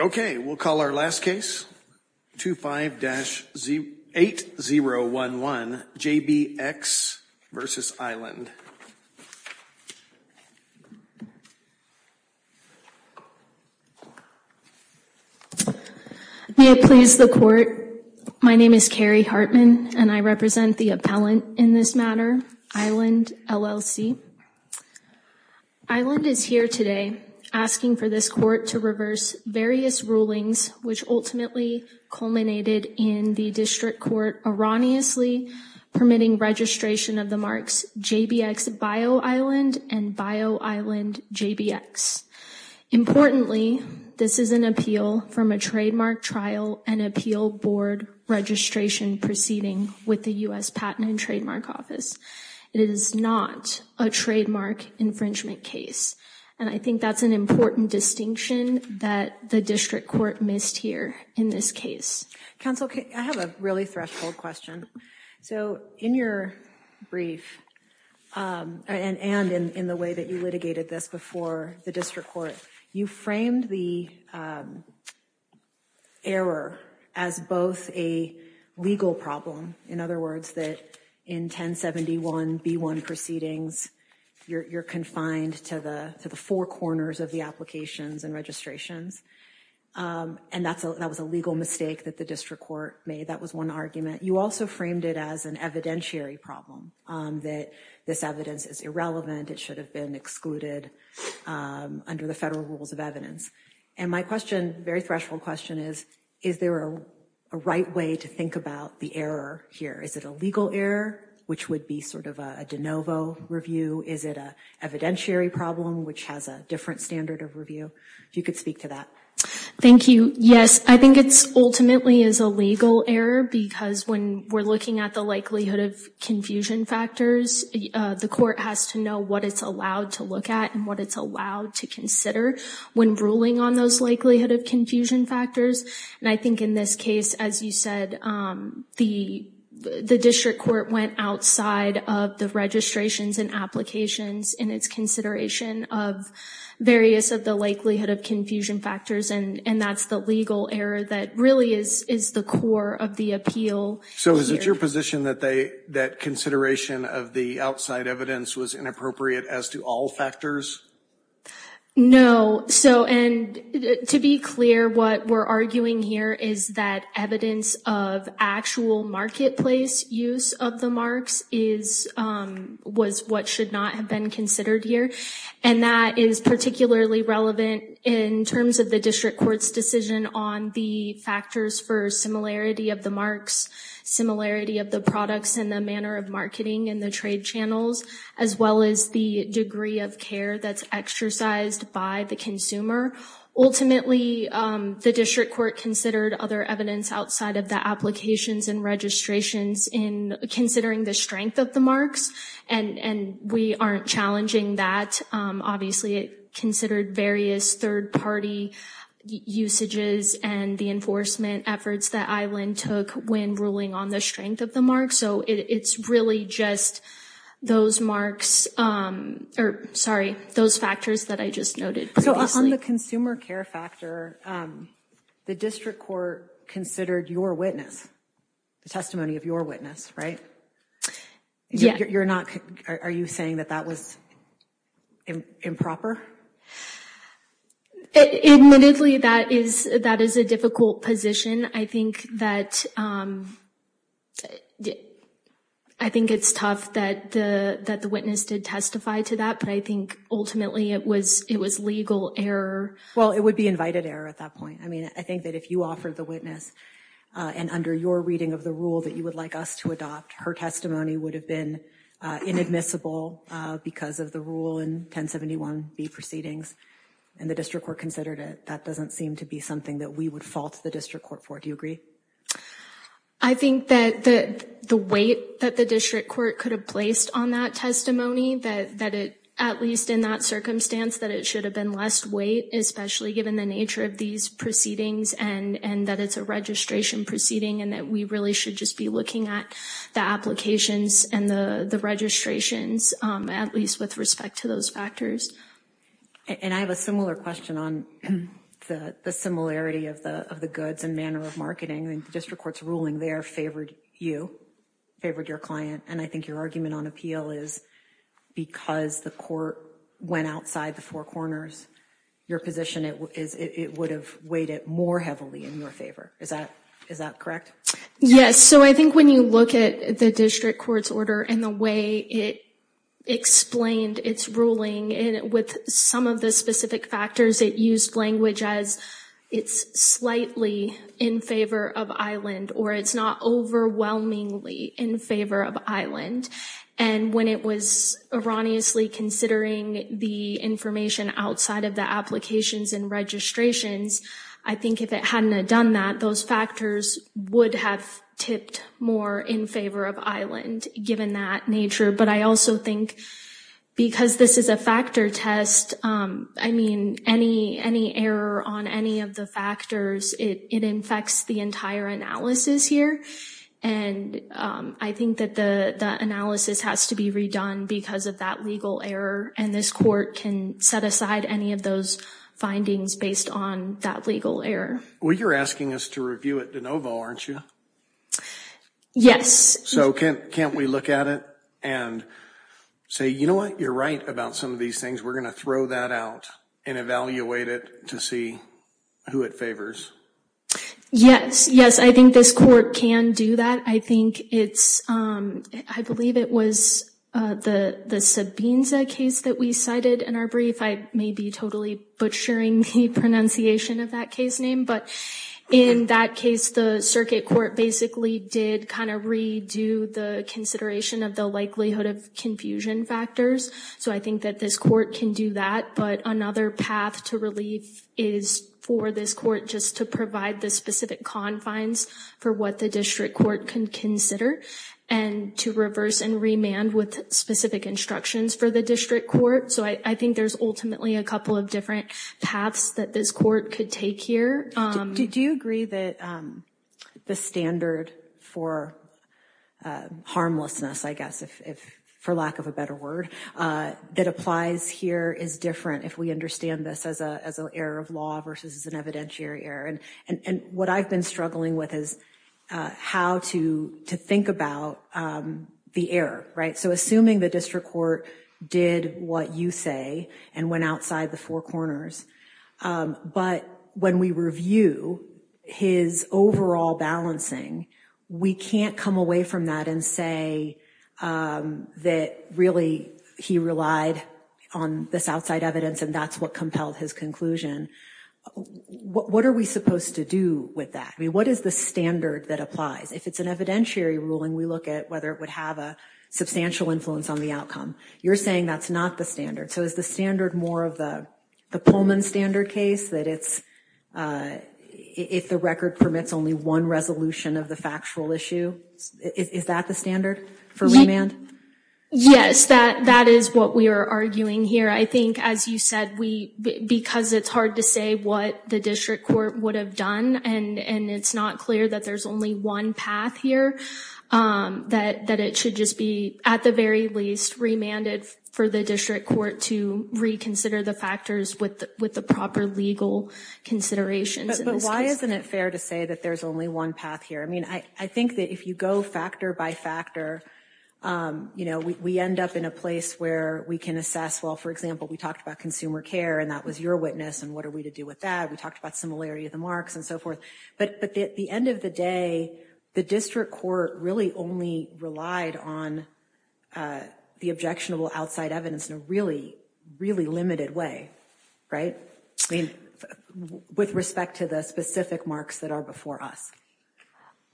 Okay, we'll call our last case, 25-8011, JBX v. Island. We have pleased the court. My name is Carrie Hartman and I represent the appellant in this matter, Island LLC. Island is here today asking for this court to reverse various rulings which ultimately culminated in the district court erroneously permitting registration of the marks JBX v. Island and v. Island JBX. Importantly, this is an appeal from a trademark trial and appeal board registration proceeding with the U.S. Patent and Trademark Office. It is not a trademark infringement case and I think that's an important distinction that the district court missed here in this case. Counsel, I have a really threshold question. So in your brief and in the way that you litigated this before the district court, you framed the error as both a legal problem, in other words, that in 1071b1 proceedings you're confined to the four corners of the applications and registrations and that was a legal mistake that the district court made. That was one argument. You also framed it as an evidentiary problem, that this evidence is irrelevant, it should have been excluded under the federal rules of evidence. And my question, very threshold question is, is there a right way to think about the error here? Is it a legal error, which would be sort of a de novo review? Is it an evidentiary problem, which has a different standard of review? You could speak to that. Thank you. Yes, I think it's ultimately is a legal error because when we're looking at the likelihood of confusion factors, the court has to know what it's allowed to look at and what it's allowed to consider when ruling on those likelihood of confusion factors. And I think in this case, as you said, the district court went outside of the registrations and applications in its consideration of various of the likelihood of confusion factors. And that's the legal error that really is the core of the appeal. So is it your position that they, that consideration of the outside evidence was inappropriate as to all factors? No. So and to be clear, what we're arguing here is that evidence of actual marketplace use of the marks is, was what should not have been considered here. And that is particularly relevant in terms of the district court's decision on the factors for similarity of the marks, similarity of the products and the manner of marketing and the trade channels, as well as the degree of care that's exercised by the consumer. Ultimately the district court considered other evidence outside of the applications and registrations in considering the strength of the marks. And we aren't challenging that. Obviously it considered various third party usages and the enforcement efforts that Eileen took when ruling on the strength of the mark. So it's really just those marks, or sorry, those factors that I just noted. So on the consumer care factor, the district court considered your witness, the testimony of your witness, right? Yeah. You're not, are you saying that that was improper? Admittedly, that is, that is a difficult position. I think that, I think it's tough that the witness did testify to that, but I think ultimately it was, it was legal error. Well, it would be invited error at that point. I mean, I think that if you offered the witness and under your reading of the rule that you would like us to adopt, her testimony would have been inadmissible because of the rule in 1071B proceedings and the district court considered it. That doesn't seem to be something that we would fault the district court for. Do you agree? I think that the weight that the district court could have placed on that testimony, that at least in that circumstance, that it should have been less weight, especially given the nature of these proceedings and that it's a registration proceeding and that we really should just be looking at the applications and the registrations, at least with respect to those factors. And I have a similar question on the similarity of the goods and manner of marketing. District court's ruling there favored you, favored your client, and I think your argument on appeal is because the court went outside the four corners, your position is it would have weighed it more heavily in your favor. Is that, is that correct? Yes, so I think when you look at the district court's order and the way it explained its ruling with some of the specific factors, it used language as it's slightly in favor of Island or it's not overwhelmingly in favor of Island. And when it was erroneously considering the information outside of the applications and the registrations, I think if it hadn't have done that, those factors would have tipped more in favor of Island given that nature. But I also think because this is a factor test, I mean, any, any error on any of the factors, it infects the entire analysis here. And I think that the analysis has to be redone because of that legal error. And this court can set aside any of those findings based on that legal error. Well, you're asking us to review it de novo, aren't you? Yes. So can't, can't we look at it and say, you know what, you're right about some of these things. We're going to throw that out and evaluate it to see who it favors. Yes, yes. I think this court can do that. I think it's, I believe it was the, the Sabinza case that we cited in our brief. I may be totally butchering the pronunciation of that case name, but in that case, the circuit court basically did kind of redo the consideration of the likelihood of confusion factors. So I think that this court can do that. But another path to relief is for this court just to provide the specific confines for what the district court can consider and to reverse and remand with specific instructions for the district court. So I think there's ultimately a couple of different paths that this court could take here. Do you agree that the standard for harmlessness, I guess, if, for lack of a better word, that applies here is different if we understand this as a, as an error of law versus an evidentiary error. And, and what I've been struggling with is how to, to think about the error, right? So assuming the district court did what you say and went outside the four corners. But when we review his overall balancing, we can't come away from that and say that really he relied on this outside evidence and that's what compelled his conclusion. What, what are we supposed to do with that? I mean, what is the standard that applies? If it's an evidentiary ruling, we look at whether it would have a substantial influence on the outcome. You're saying that's not the standard. So is the standard more of the Pullman standard case that it's, if the record permits only one resolution of the factual issue, is that the standard for remand? Yes, that, that is what we are arguing here. I think, as you said, we, because it's hard to say what the district court would have done and, and it's not clear that there's only one path here, that, that it should just be at the very least remanded for the district court to reconsider the factors with the, with the proper legal considerations. But, but why isn't it fair to say that there's only one path here? I mean, I, I think that if you go factor by factor, you know, we, we end up in a place where we can assess, well, for example, we talked about consumer care and that was your witness and what are we to do with that? We talked about similarity of the marks and so forth. But, but at the end of the day, the district court really only relied on the objectionable outside evidence in a really, really limited way, right? I mean, with respect to the specific marks that are before us.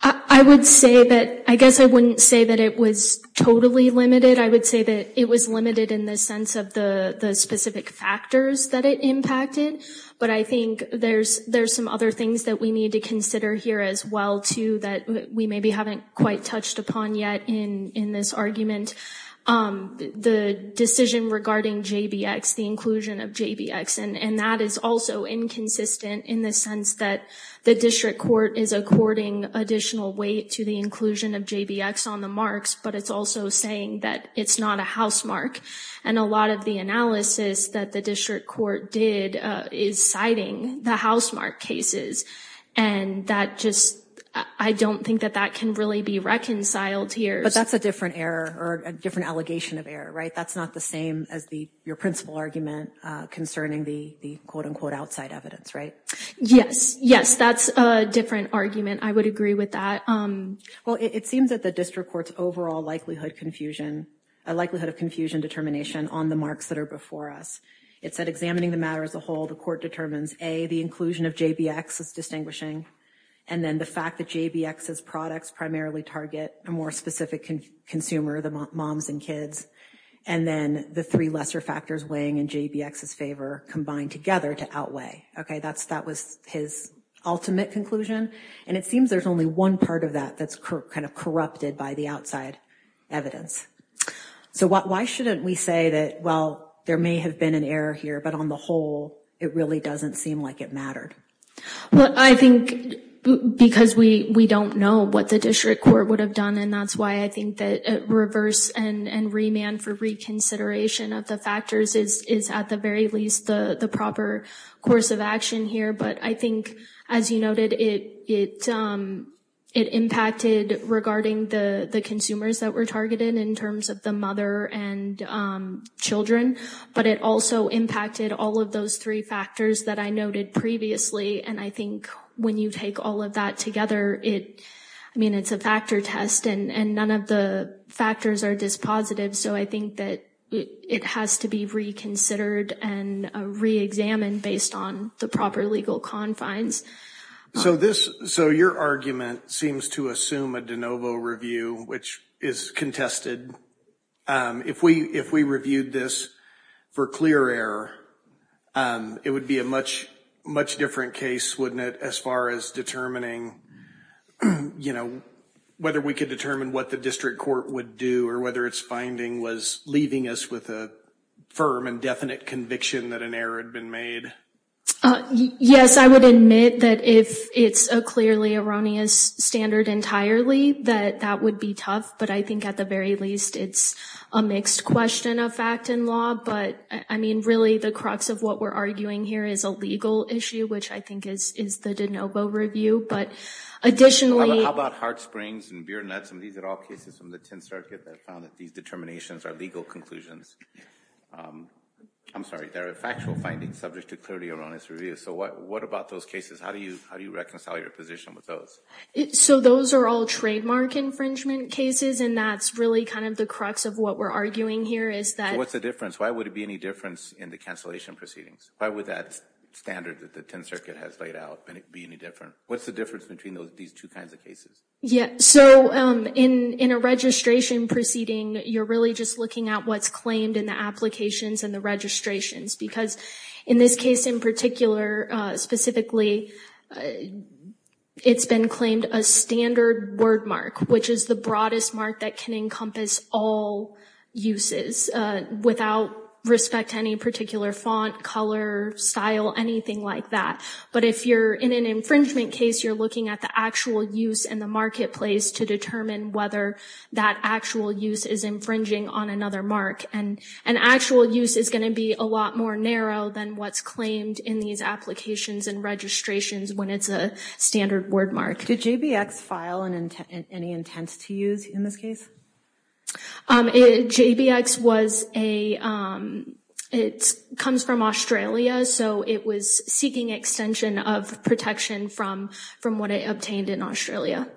I would say that, I guess I wouldn't say that it was totally limited. I would say that it was limited in the sense of the, the specific factors that it impacted. But I think there's, there's some other things that we need to consider here as well, too, that we maybe haven't quite touched upon yet in, in this argument. The decision regarding JBX, the inclusion of JBX, and, and that is also inconsistent in the sense that the district court is according additional weight to the inclusion of JBX on the marks, but it's also saying that it's not a housemark. And a lot of the analysis that the district court did is citing the housemark cases. And that just, I don't think that that can really be reconciled here. But that's a different error or a different allegation of error, right? That's not the same as the, your principal argument concerning the, the quote unquote outside evidence, right? Yes. Yes. That's a different argument. I would agree with that. Well, it seems that the district court's overall likelihood confusion, likelihood of confusion determination on the marks that are before us, it said examining the matter as a whole, the court determines A, the inclusion of JBX is distinguishing. And then the fact that JBX's products primarily target a more specific consumer, the moms and kids, and then the three lesser factors weighing in JBX's favor combined together to outweigh. Okay, that's, that was his ultimate conclusion. And it seems there's only one part of that that's kind of corrupted by the outside evidence. So why shouldn't we say that, well, there may have been an error here, but on the whole, it really doesn't seem like it mattered. Well, I think because we, we don't know what the district court would have done. And that's why I think that reverse and remand for reconsideration of the factors is at the very least the proper course of action here. But I think, as you noted, it, it, it impacted regarding the, the consumers that were targeted in terms of the mother and children, but it also impacted all of those three factors that I noted previously. And I think when you take all of that together, it, I mean, it's a factor test and, and none of the factors are dispositive. So I think that it has to be reconsidered and reexamined based on the proper legal confines. So this, so your argument seems to assume a de novo review, which is contested. If we, if we reviewed this for clear error, it would be a much, much different case, wouldn't it? As far as determining, you know, whether we could determine what the district court would do or whether it's finding was leaving us with a firm and definite conviction that an error had been made. Yes, I would admit that if it's a clearly erroneous standard entirely, that that would be tough. But I think at the very least, it's a mixed question of fact and law, but I mean, really the crux of what we're arguing here is a legal issue, which I think is, is the de novo review. But additionally, How about Heart Springs and Beer Nuts, and these are all cases from the 10th Circuit that found that these determinations are legal conclusions. I'm sorry, there are factual findings subject to clearly erroneous review. So what, what about those cases? How do you, how do you reconcile your position with those? So those are all trademark infringement cases. And that's really kind of the crux of what we're arguing here is that, What's the difference? Why would it be any difference in the cancellation proceedings? Why would that standard that the 10th Circuit has laid out be any different? What's the difference between those, these two kinds of cases? Yeah, so in, in a registration proceeding, you're really just looking at what's claimed in the applications and the registrations. Because in this case in particular, specifically, it's been claimed a standard wordmark, which is the broadest mark that can encompass all uses without respect to any particular font, color, style, anything like that. But if you're in an infringement case, you're looking at the actual use in the marketplace to determine whether that actual use is infringing on another mark. And, and actual use is going to be a lot more narrow than what's claimed in these applications and registrations when it's a standard wordmark. Did JBX file an intent, any intent to use in this case? JBX was a, it comes from Australia, so it was seeking extension of protection from, from what it obtained in Australia.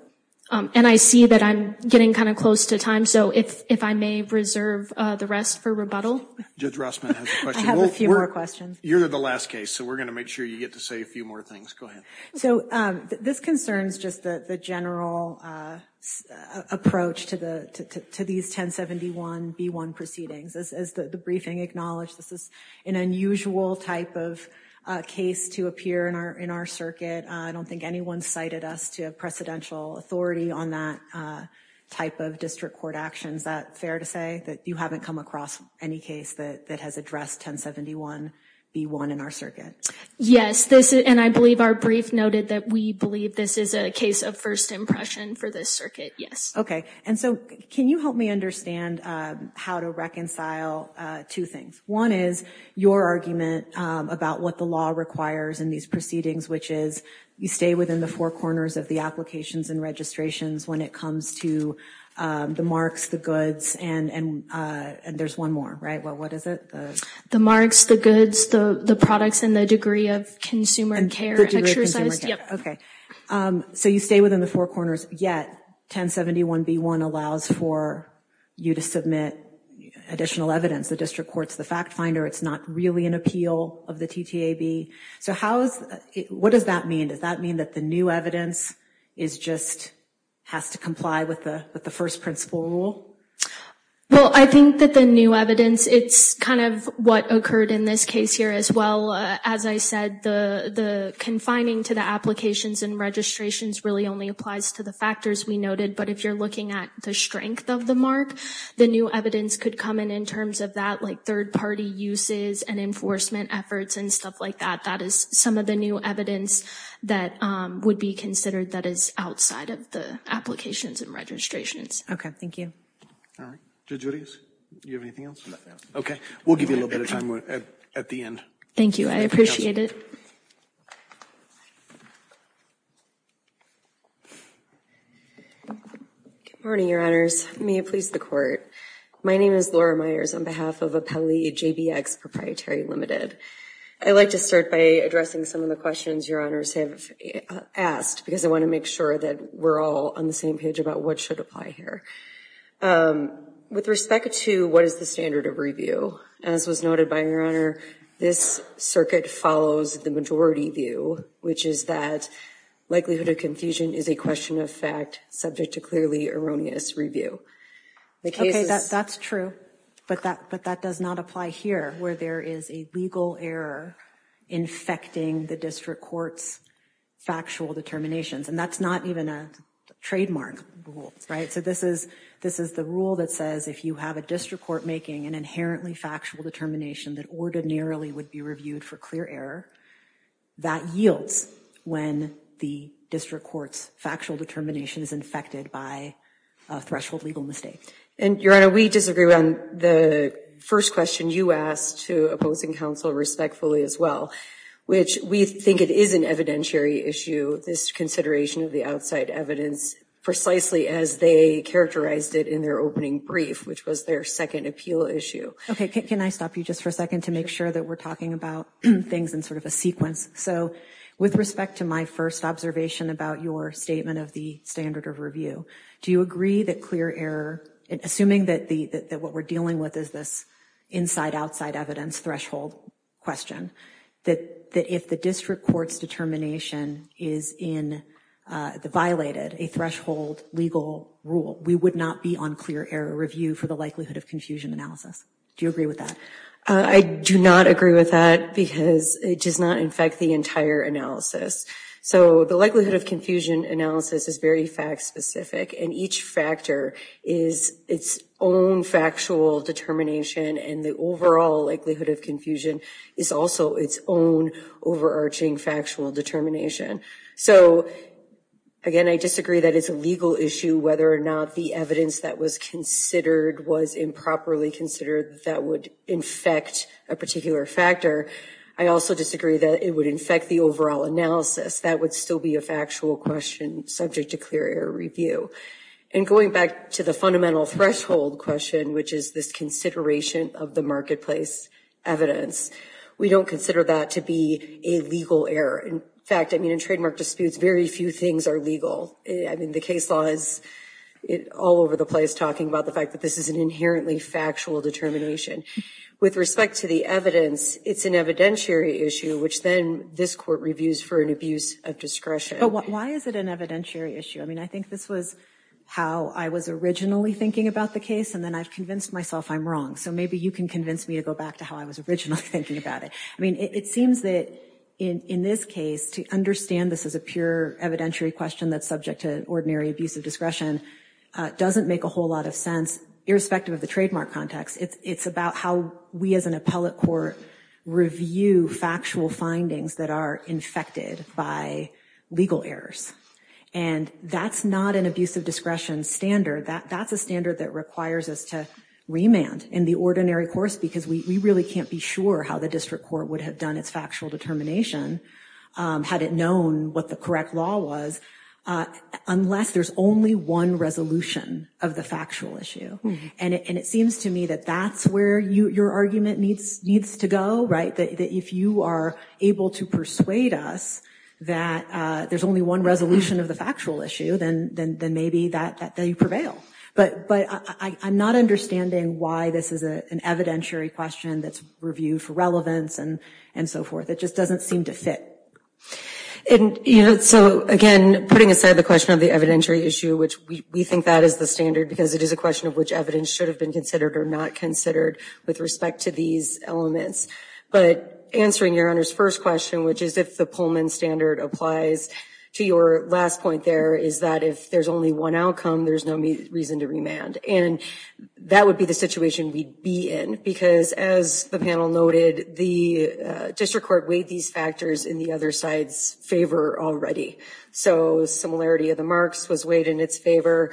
And I see that I'm getting kind of close to time, so if, if I may reserve the rest for rebuttal. Judge Rossman has a question. I have a few more questions. You're the last case, so we're going to make sure you get to say a few more things. Go ahead. So this concerns just the general approach to the, to these 1071-B1 proceedings. As the briefing acknowledged, this is an unusual type of case to appear in our, in our circuit. I don't think anyone cited us to have precedential authority on that type of district court actions. Is that fair to say, that you haven't come across any case that, that has addressed 1071-B1 in our circuit? Yes. This is, and I believe our brief noted that we believe this is a case of first impression for this circuit. Yes. Okay. And so, can you help me understand how to reconcile two things? One is, your argument about what the law requires in these proceedings, which is, you stay within the four corners of the applications and registrations when it comes to the marks, the goods, and, and, and there's one more, right? Well, what is it? The marks, the goods, the, the products, and the degree of consumer care exercised. Okay. So you stay within the four corners, yet 1071-B1 allows for you to submit additional evidence. The district court's the fact finder. It's not really an appeal of the TTAB. So how is, what does that mean? Does that mean that the new evidence is just, has to comply with the, with the first principle rule? Well, I think that the new evidence, it's kind of what occurred in this case here as well. As I said, the, the confining to the applications and registrations really only applies to the factors we noted. But if you're looking at the strength of the mark, the new evidence could come in in terms of that, like third party uses and enforcement efforts and stuff like that. That is some of the new evidence that would be considered that is outside of the applications and registrations. Okay. All right. Thank you. All right. Judge Rios, do you have anything else? Okay. We'll give you a little bit of time at the end. Thank you. I appreciate it. Good morning, your honors. May it please the court. My name is Laura Myers on behalf of Appellee JBX Proprietary Limited. I'd like to start by addressing some of the questions your honors have asked, because I want to make sure that we're all on the same page about what should apply here. With respect to what is the standard of review, as was noted by your honor, this circuit follows the majority view, which is that likelihood of confusion is a question of fact, subject to clearly erroneous review. Okay, that's true. But that does not apply here, where there is a legal error infecting the district court's factual determinations. And that's not even a trademark rule. Right? So this is the rule that says if you have a district court making an inherently factual determination that ordinarily would be reviewed for clear error, that yields when the district court's factual determination is infected by a threshold legal mistake. And your honor, we disagree on the first question you asked to opposing counsel respectfully as well, which we think it is an evidentiary issue, this consideration of the outside evidence, precisely as they characterized it in their opening brief, which was their second appeal issue. Okay, can I stop you just for a second to make sure that we're talking about things in sort of a sequence? So with respect to my first observation about your statement of the standard of review, do you agree that clear error, assuming that what we're dealing with is this inside-outside evidence threshold question, that if the district court's determination is violated, a threshold legal rule, we would not be on clear error review for the likelihood of confusion analysis? Do you agree with that? I do not agree with that because it does not infect the entire analysis. So the likelihood of confusion analysis is very fact-specific, and each factor is its own factual determination, and the overall likelihood of confusion is also its own overarching factual determination. So again, I disagree that it's a legal issue whether or not the evidence that was considered was improperly considered that would infect a particular factor. I also disagree that it would infect the overall analysis. That would still be a factual question subject to clear error review. And going back to the fundamental threshold question, which is this consideration of the marketplace evidence, we don't consider that to be a legal error. In fact, in trademark disputes, very few things are legal. The case law is all over the place talking about the fact that this is an inherently factual determination. With respect to the evidence, it's an evidentiary issue, which then this Court reviews for an abuse of discretion. Why is it an evidentiary issue? I think this was how I was originally thinking about the case, and then I've convinced myself I'm wrong. So maybe you can convince me to go back to how I was originally thinking about it. It seems that in this case, to understand this as a pure evidentiary question that's subject to ordinary abuse of discretion doesn't make a whole lot of sense, irrespective of the trademark context. It's about how we as an appellate court review factual findings that are infected by legal errors. And that's not an abuse of discretion standard. That's a standard that requires us to remand in the ordinary course because we really can't be sure how the district court would have done its factual determination had it known what the correct law was unless there's only one resolution of the factual issue. And it seems to me that that's where your argument needs to go, right, that if you are able to persuade us that there's only one resolution of the factual issue, then maybe that you prevail. But I'm not understanding why this is an evidentiary question that's reviewed for relevance and so forth. It just doesn't seem to fit. And, you know, so again, putting aside the question of the evidentiary issue, which we think that is the standard because it is a question of which evidence should have been considered or not considered with respect to these elements. But answering Your Honor's first question, which is if the Pullman standard applies to your last point there is that if there's only one outcome, there's no reason to remand. And that would be the situation we'd be in because as the panel noted, the district court weighed these factors in the other side's favor already. So similarity of the marks was weighed in its favor,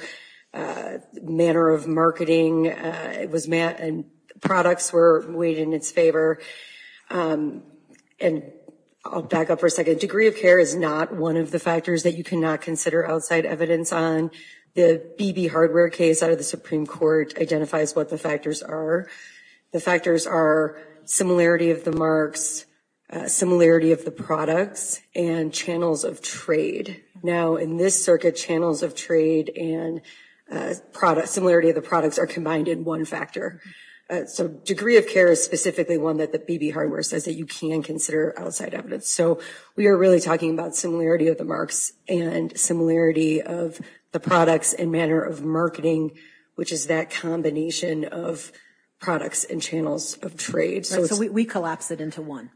manner of marketing and products were weighed in its favor. And I'll back up for a second. The degree of care is not one of the factors that you cannot consider outside evidence on. The BB hardware case out of the Supreme Court identifies what the factors are. The factors are similarity of the marks, similarity of the products, and channels of trade. Now in this circuit, channels of trade and similarity of the products are combined in one factor. So degree of care is specifically one that the BB hardware says that you can consider outside evidence. So we are really talking about similarity of the marks and similarity of the products and manner of marketing, which is that combination of products and channels of trade. So we collapse it into one.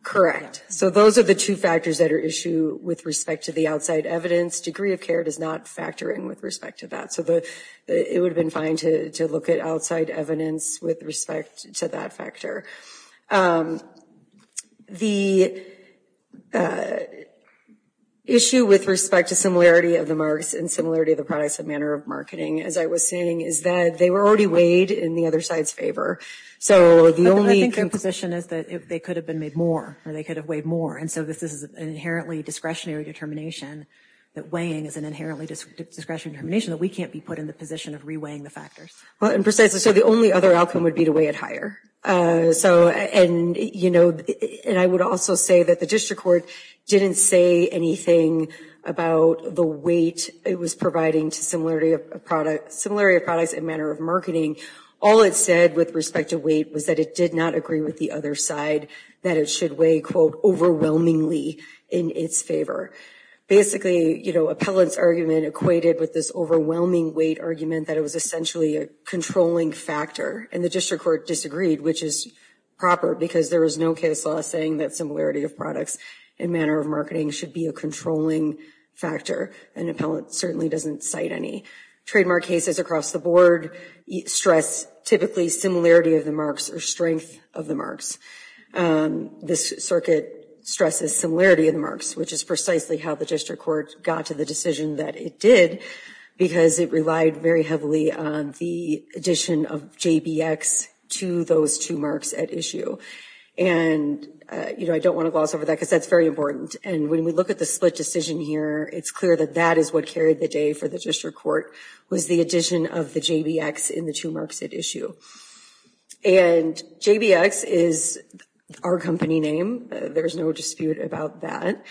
So those are the two factors that are issue with respect to the outside evidence. Degree of care does not factor in with respect to that. So it would have been fine to look at outside evidence with respect to that factor. The issue with respect to similarity of the marks and similarity of the products and manner of marketing, as I was saying, is that they were already weighed in the other side's favor. So the only- I think their position is that they could have been made more or they could have weighed more. And so this is an inherently discretionary determination that weighing is an inherently discretionary determination that we can't be put in the position of re-weighing the factors. Well, and precisely so, the only other outcome would be to weigh it higher. So, and you know, and I would also say that the district court didn't say anything about the weight it was providing to similarity of products and manner of marketing. All it said with respect to weight was that it did not agree with the other side that it should weigh, quote, overwhelmingly in its favor. Basically, you know, appellant's argument equated with this overwhelming weight argument that it was essentially a controlling factor. And the district court disagreed, which is proper, because there was no case law saying that similarity of products and manner of marketing should be a controlling factor. An appellant certainly doesn't cite any. Trademark cases across the board stress typically similarity of the marks or strength of the This circuit stresses similarity of the marks, which is precisely how the district court got to the decision that it did, because it relied very heavily on the addition of JBX to those two marks at issue. And you know, I don't want to gloss over that, because that's very important. And when we look at the split decision here, it's clear that that is what carried the day for the district court, was the addition of the JBX in the two marks at issue. And JBX is our company name. There's no dispute about that.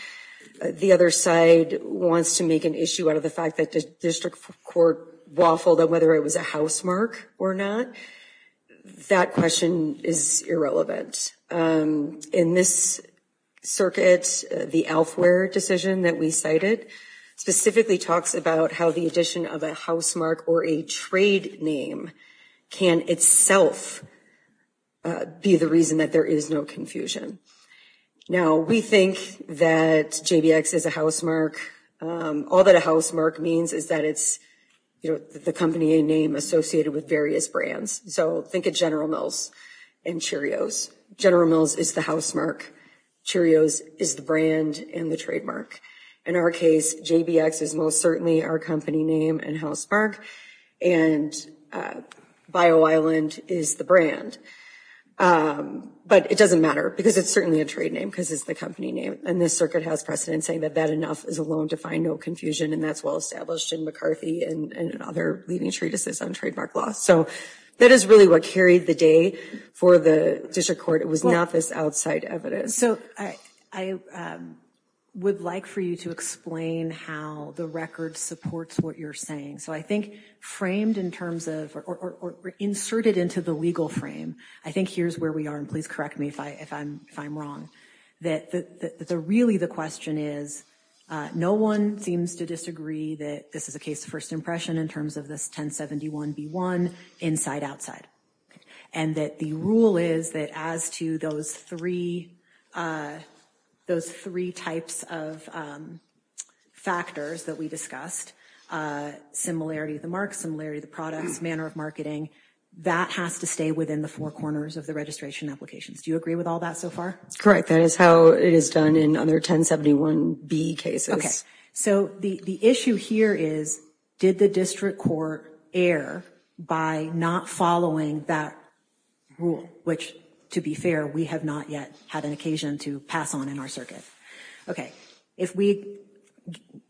The other side wants to make an issue out of the fact that the district court waffled on whether it was a housemark or not. That question is irrelevant. In this circuit, the Alfwear decision that we cited specifically talks about how the addition of a housemark or a trade name can itself be the reason that there is no confusion. Now, we think that JBX is a housemark. All that a housemark means is that it's the company name associated with various brands. So think of General Mills and Cheerios. General Mills is the housemark. Cheerios is the brand and the trademark. In our case, JBX is most certainly our company name and housemark. And Bio Island is the brand. But it doesn't matter because it's certainly a trade name because it's the company name. And this circuit has precedent saying that that enough is a loan to find no confusion. And that's well established in McCarthy and other leading treatises on trademark law. So that is really what carried the day for the district court. It was not this outside evidence. So I would like for you to explain how the record supports what you're saying. So I think framed in terms of or inserted into the legal frame, I think here's where we are. And please correct me if I'm wrong. Really the question is no one seems to disagree that this is a case of first impression in terms of this 1071B1 inside outside. And that the rule is that as to those three those three types of factors that we discussed, similarity of the mark, similarity of the products, manner of marketing, that has to stay within the four corners of the registration applications. Do you agree with all that so far? That's correct. That is how it is done in other 1071B cases. So the issue here is, did the district court err by not following that rule, which, to be fair, we have not yet had an occasion to pass on in our circuit. If we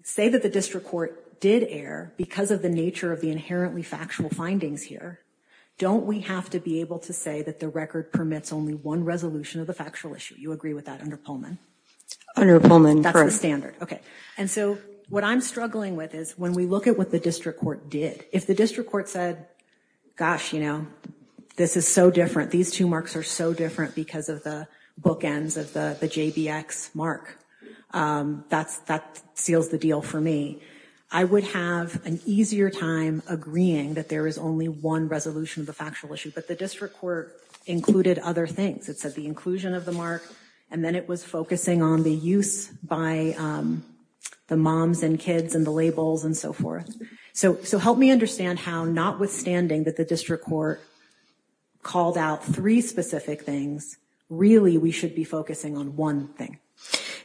say that the district court did err because of the nature of the inherently factual findings here, don't we have to be able to say that the record permits only one resolution of the factual issue? You agree with that under Pullman? Under Pullman, correct. That's the standard. Okay. And so what I'm struggling with is when we look at what the district court did, if the district court said, gosh, you know, this is so different. These two marks are so different because of the bookends of the JBX mark, that seals the deal for me. I would have an easier time agreeing that there is only one resolution of the factual issue. But the district court included other things. It said the inclusion of the mark, and then it was focusing on the use by the moms and kids and the labels and so forth. So help me understand how, notwithstanding that the district court called out three specific things, really we should be focusing on one thing.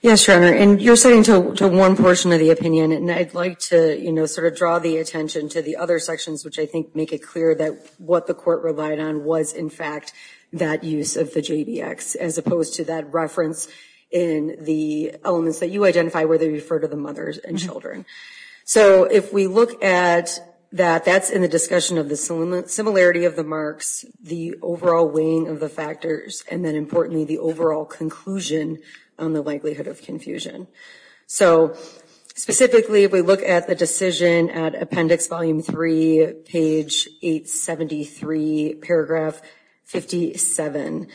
Yes, Your Honor. And you're saying to one portion of the opinion, and I'd like to, you know, sort of draw the attention to the other sections, which I think make it clear that what the court relied on was, in fact, that use of the JBX, as opposed to that reference in the elements that you identify where they refer to the mothers and children. So if we look at that, that's in the discussion of the similarity of the marks, the overall weighing of the factors, and then importantly, the overall conclusion on the likelihood of confusion. So specifically, we look at the decision at Appendix Volume 3, page 873, paragraph 57.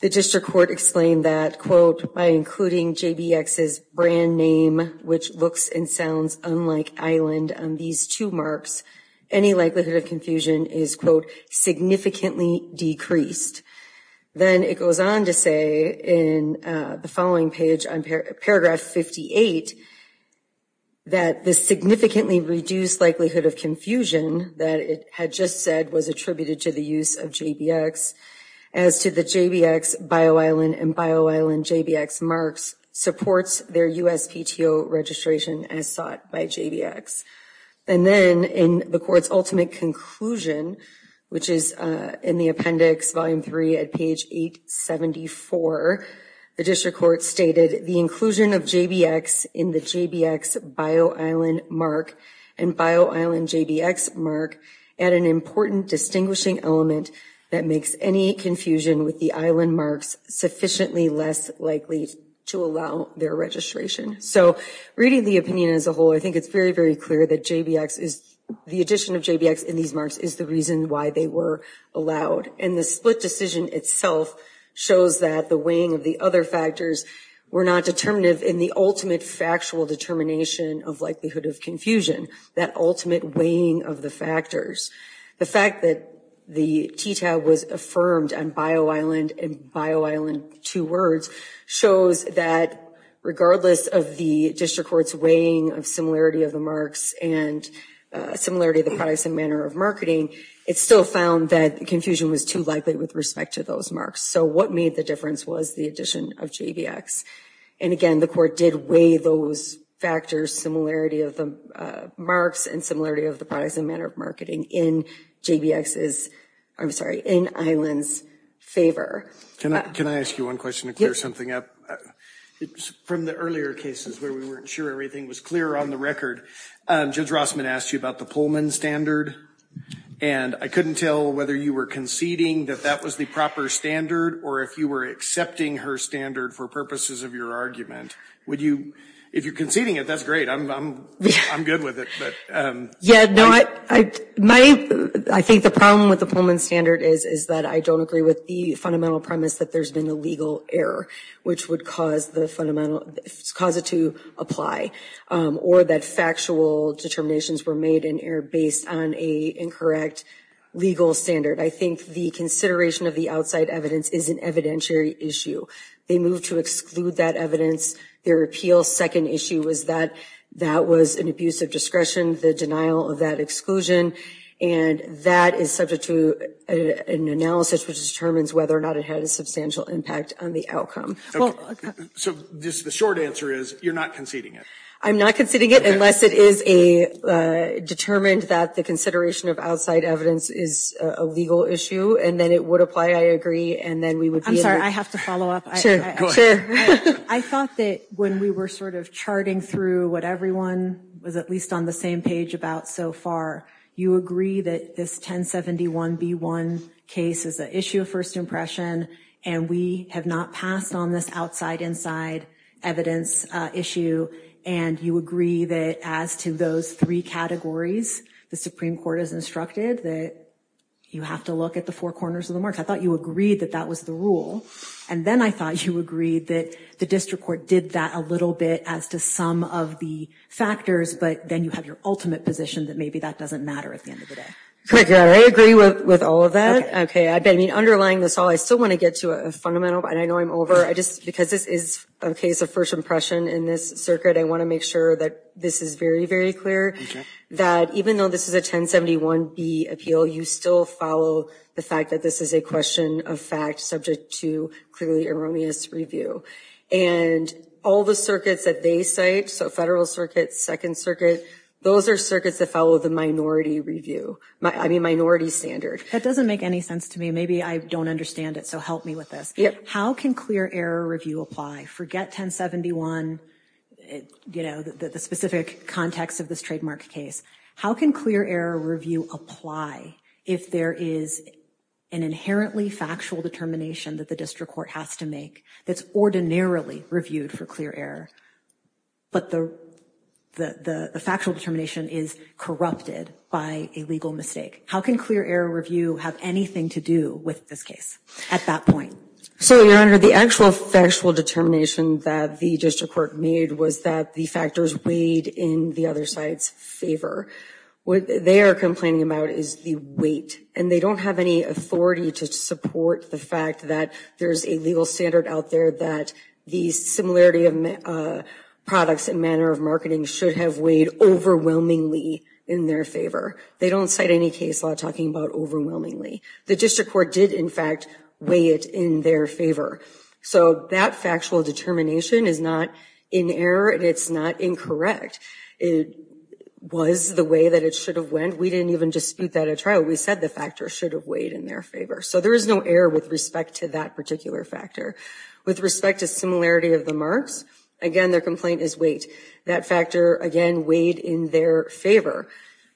The district court explained that, quote, by including JBX's brand name, which looks and sounds unlike Island on these two marks, any likelihood of confusion is, quote, significantly decreased. Then it goes on to say in the following page on paragraph 58, that the significantly reduced likelihood of confusion that it had just said was attributed to the use of JBX, as to the JBX Bio Island and Bio Island JBX marks supports their USPTO registration as sought by JBX. And then in the court's ultimate conclusion, which is in the Appendix Volume 3 at page 874, the district court stated, the inclusion of JBX in the JBX Bio Island mark and Bio Island JBX mark add an important distinguishing element that makes any confusion with the Island marks sufficiently less likely to allow their registration. So reading the opinion as a whole, I think it's very, very clear that the addition of JBX in these marks is the reason why they were allowed. And the split decision itself shows that the weighing of the other factors were not determinative in the ultimate factual determination of likelihood of confusion, that ultimate weighing of the factors. The fact that the TTAB was affirmed on Bio Island and Bio Island, two words, shows that regardless of the district court's weighing of similarity of the marks and similarity of the price and manner of marketing, it still found that confusion was too likely with respect to those marks. So what made the difference was the addition of JBX. And again, the court did weigh those factors, similarity of the marks and similarity of the price and manner of marketing in JBX's, I'm sorry, in Island's favor. Can I ask you one question to clear something up? From the earlier cases where we weren't sure everything was clear on the record, Judge Rossman asked you about the Pullman standard. And I couldn't tell whether you were conceding that that was the proper standard or if you were accepting her standard for purposes of your argument. Would you, if you're conceding it, that's great, I'm good with it, but. Yeah, no, I think the problem with the Pullman standard is that I don't agree with the fundamental premise that there's been a legal error, which would cause the fundamental, cause it to apply. Or that factual determinations were made in error based on a incorrect legal standard. I think the consideration of the outside evidence is an evidentiary issue. They moved to exclude that evidence. Their appeal's second issue was that that was an abuse of discretion, the denial of that exclusion, and that is subject to an analysis which determines whether or not it had a substantial impact on the outcome. So the short answer is, you're not conceding it? I'm not conceding it unless it is a, determined that the consideration of outside evidence is a legal issue, and then it would apply, I agree, and then we would be able to. I'm sorry, I have to follow up. Sure, go ahead. Sure. I thought that when we were sort of charting through what everyone was at least on the same page about so far, you agree that this 1071B1 case is an issue of first impression, and we have not passed on this outside-inside evidence issue, and you agree that as to those three categories, the Supreme Court has instructed that you have to look at the four corners of the mark. I thought you agreed that that was the rule, and then I thought you agreed that the district court did that a little bit as to some of the factors, but then you have your ultimate position that maybe that doesn't matter at the end of the day. Correct. I agree with all of that. I mean, underlying this all, I still want to get to a fundamental, and I know I'm over. Because this is a case of first impression in this circuit, I want to make sure that this is very, very clear, that even though this is a 1071B appeal, you still follow the fact that this is a question of fact subject to clearly erroneous review. And all the circuits that they cite, so Federal Circuit, Second Circuit, those are circuits that follow the minority review, I mean, minority standard. That doesn't make any sense to me. Maybe I don't understand it, so help me with this. How can clear error review apply? Forget 1071, you know, the specific context of this trademark case. How can clear error review apply if there is an inherently factual determination that the district court has to make that's ordinarily reviewed for clear error, but the factual determination is corrupted by a legal mistake? How can clear error review have anything to do with this case at that point? So, Your Honor, the actual factual determination that the district court made was that the factors weighed in the other side's favor. What they are complaining about is the weight, and they don't have any authority to support the fact that there's a legal standard out there that the similarity of products and manner of marketing should have weighed overwhelmingly in their favor. They don't cite any case law talking about overwhelmingly. The district court did, in fact, weigh it in their favor. So that factual determination is not in error, and it's not incorrect. It was the way that it should have went. We didn't even dispute that at trial. We said the factors should have weighed in their favor. So there is no error with respect to that particular factor. With respect to similarity of the marks, again, their complaint is weight. That factor, again, weighed in their favor.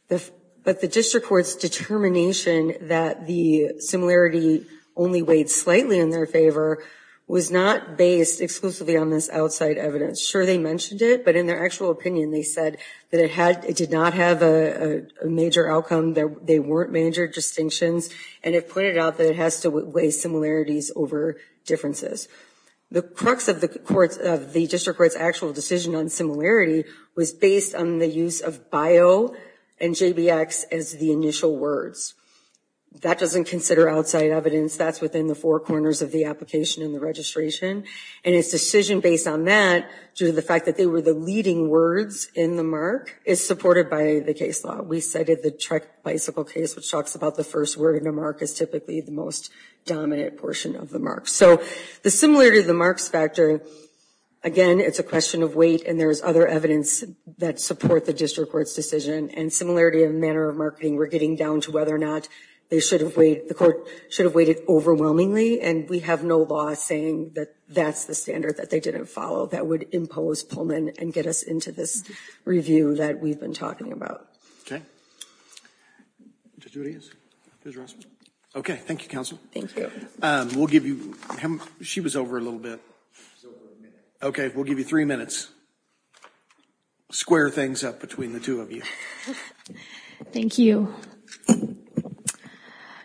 But the district court's determination that the similarity only weighed slightly in their favor was not based exclusively on this outside evidence. Sure, they mentioned it, but in their actual opinion, they said that it did not have a major outcome, they weren't major distinctions, and it pointed out that it has to weigh similarities over differences. The crux of the district court's actual decision on similarity was based on the use of bio and JBX as the initial words. That doesn't consider outside evidence. That's within the four corners of the application and the registration, and its decision based on that, due to the fact that they were the leading words in the mark, is supported by the case law. We cited the Trek bicycle case, which talks about the first word in a mark is typically the most dominant portion of the mark. So the similarity of the marks factor, again, it's a question of weight, and there's other evidence that support the district court's decision, and similarity of manner of marketing, we're getting down to whether or not they should have weighed, the court should have weighted overwhelmingly, and we have no law saying that that's the standard that they didn't follow that would impose Pullman and get us into this review that we've been talking about. Okay. Judge Rodriguez? Judge Rossman? Okay. Thank you, counsel. Thank you. We'll give you, she was over a little bit. She was over a minute. Okay, we'll give you three minutes. Please square things up between the two of you. Thank you.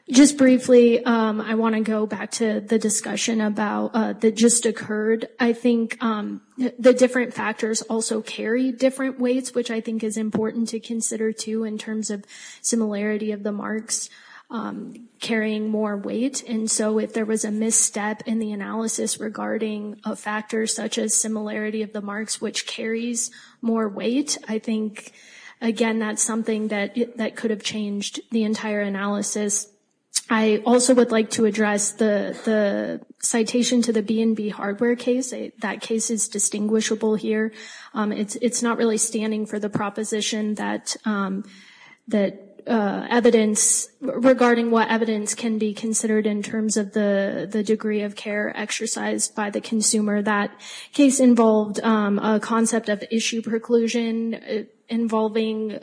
Just briefly, I want to go back to the discussion about that just occurred. I think the different factors also carry different weights, which I think is important to consider too in terms of similarity of the marks carrying more weight. And so if there was a misstep in the analysis regarding a factor such as similarity of the marks which carries more weight, I think, again, that's something that could have changed the entire analysis. I also would like to address the citation to the B&B hardware case. That case is distinguishable here. It's not really standing for the proposition that evidence, regarding what evidence can be considered in terms of the degree of care exercised by the consumer. That case involved a concept of issue preclusion involving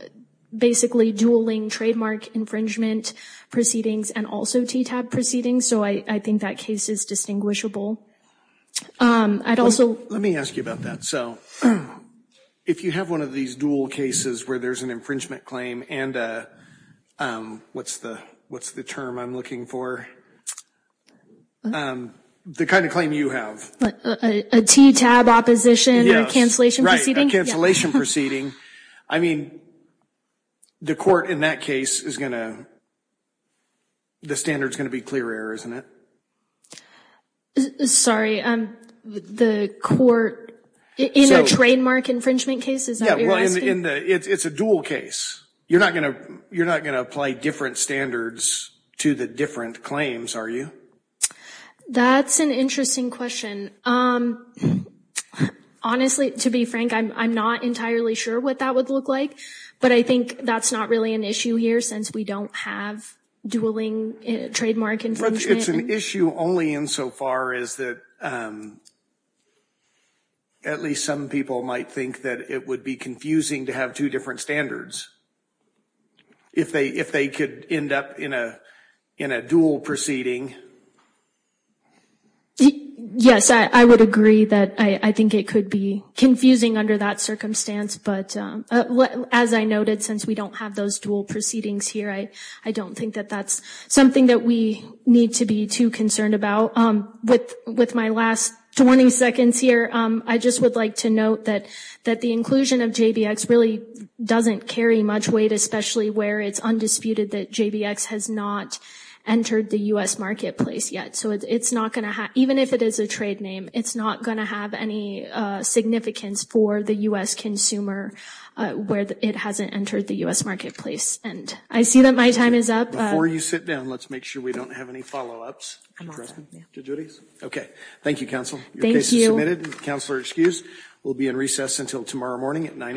basically dueling trademark infringement proceedings and also TTAB proceedings. So I think that case is distinguishable. I'd also- Let me ask you about that. So if you have one of these dual cases where there's an infringement claim and a, what's the term I'm looking for? The kind of claim you have. A TTAB opposition or cancellation proceeding? Right, a cancellation proceeding. I mean, the court in that case is going to, the standard is going to be clear error, isn't it? Sorry, the court in a trademark infringement case? Is that what you're asking? Yeah, well, it's a dual case. You're not going to apply different standards to the different claims, are you? That's an interesting question. Honestly, to be frank, I'm not entirely sure what that would look like, but I think that's not really an issue here since we don't have dueling trademark infringement. It's an issue only insofar as that at least some people might think that it would be confusing to have two different standards if they could end up in a dual proceeding. Yes, I would agree that I think it could be confusing under that circumstance, but as I noted, since we don't have those dual proceedings here, I don't think that that's something that we need to be too concerned about. With my last 20 seconds here, I just would like to note that the inclusion of JVX really doesn't carry much weight, especially where it's undisputed that JVX has not entered the U.S. marketplace yet. So it's not going to have, even if it is a trade name, it's not going to have any significance for the U.S. consumer where it hasn't entered the U.S. marketplace. I see that my time is up. Before you sit down, let's make sure we don't have any follow-ups. I'm on that. Judge Otis? Okay. Thank you, Counsel. Your case is submitted. Counselor excused. We'll be in recess until tomorrow morning at 9 a.m.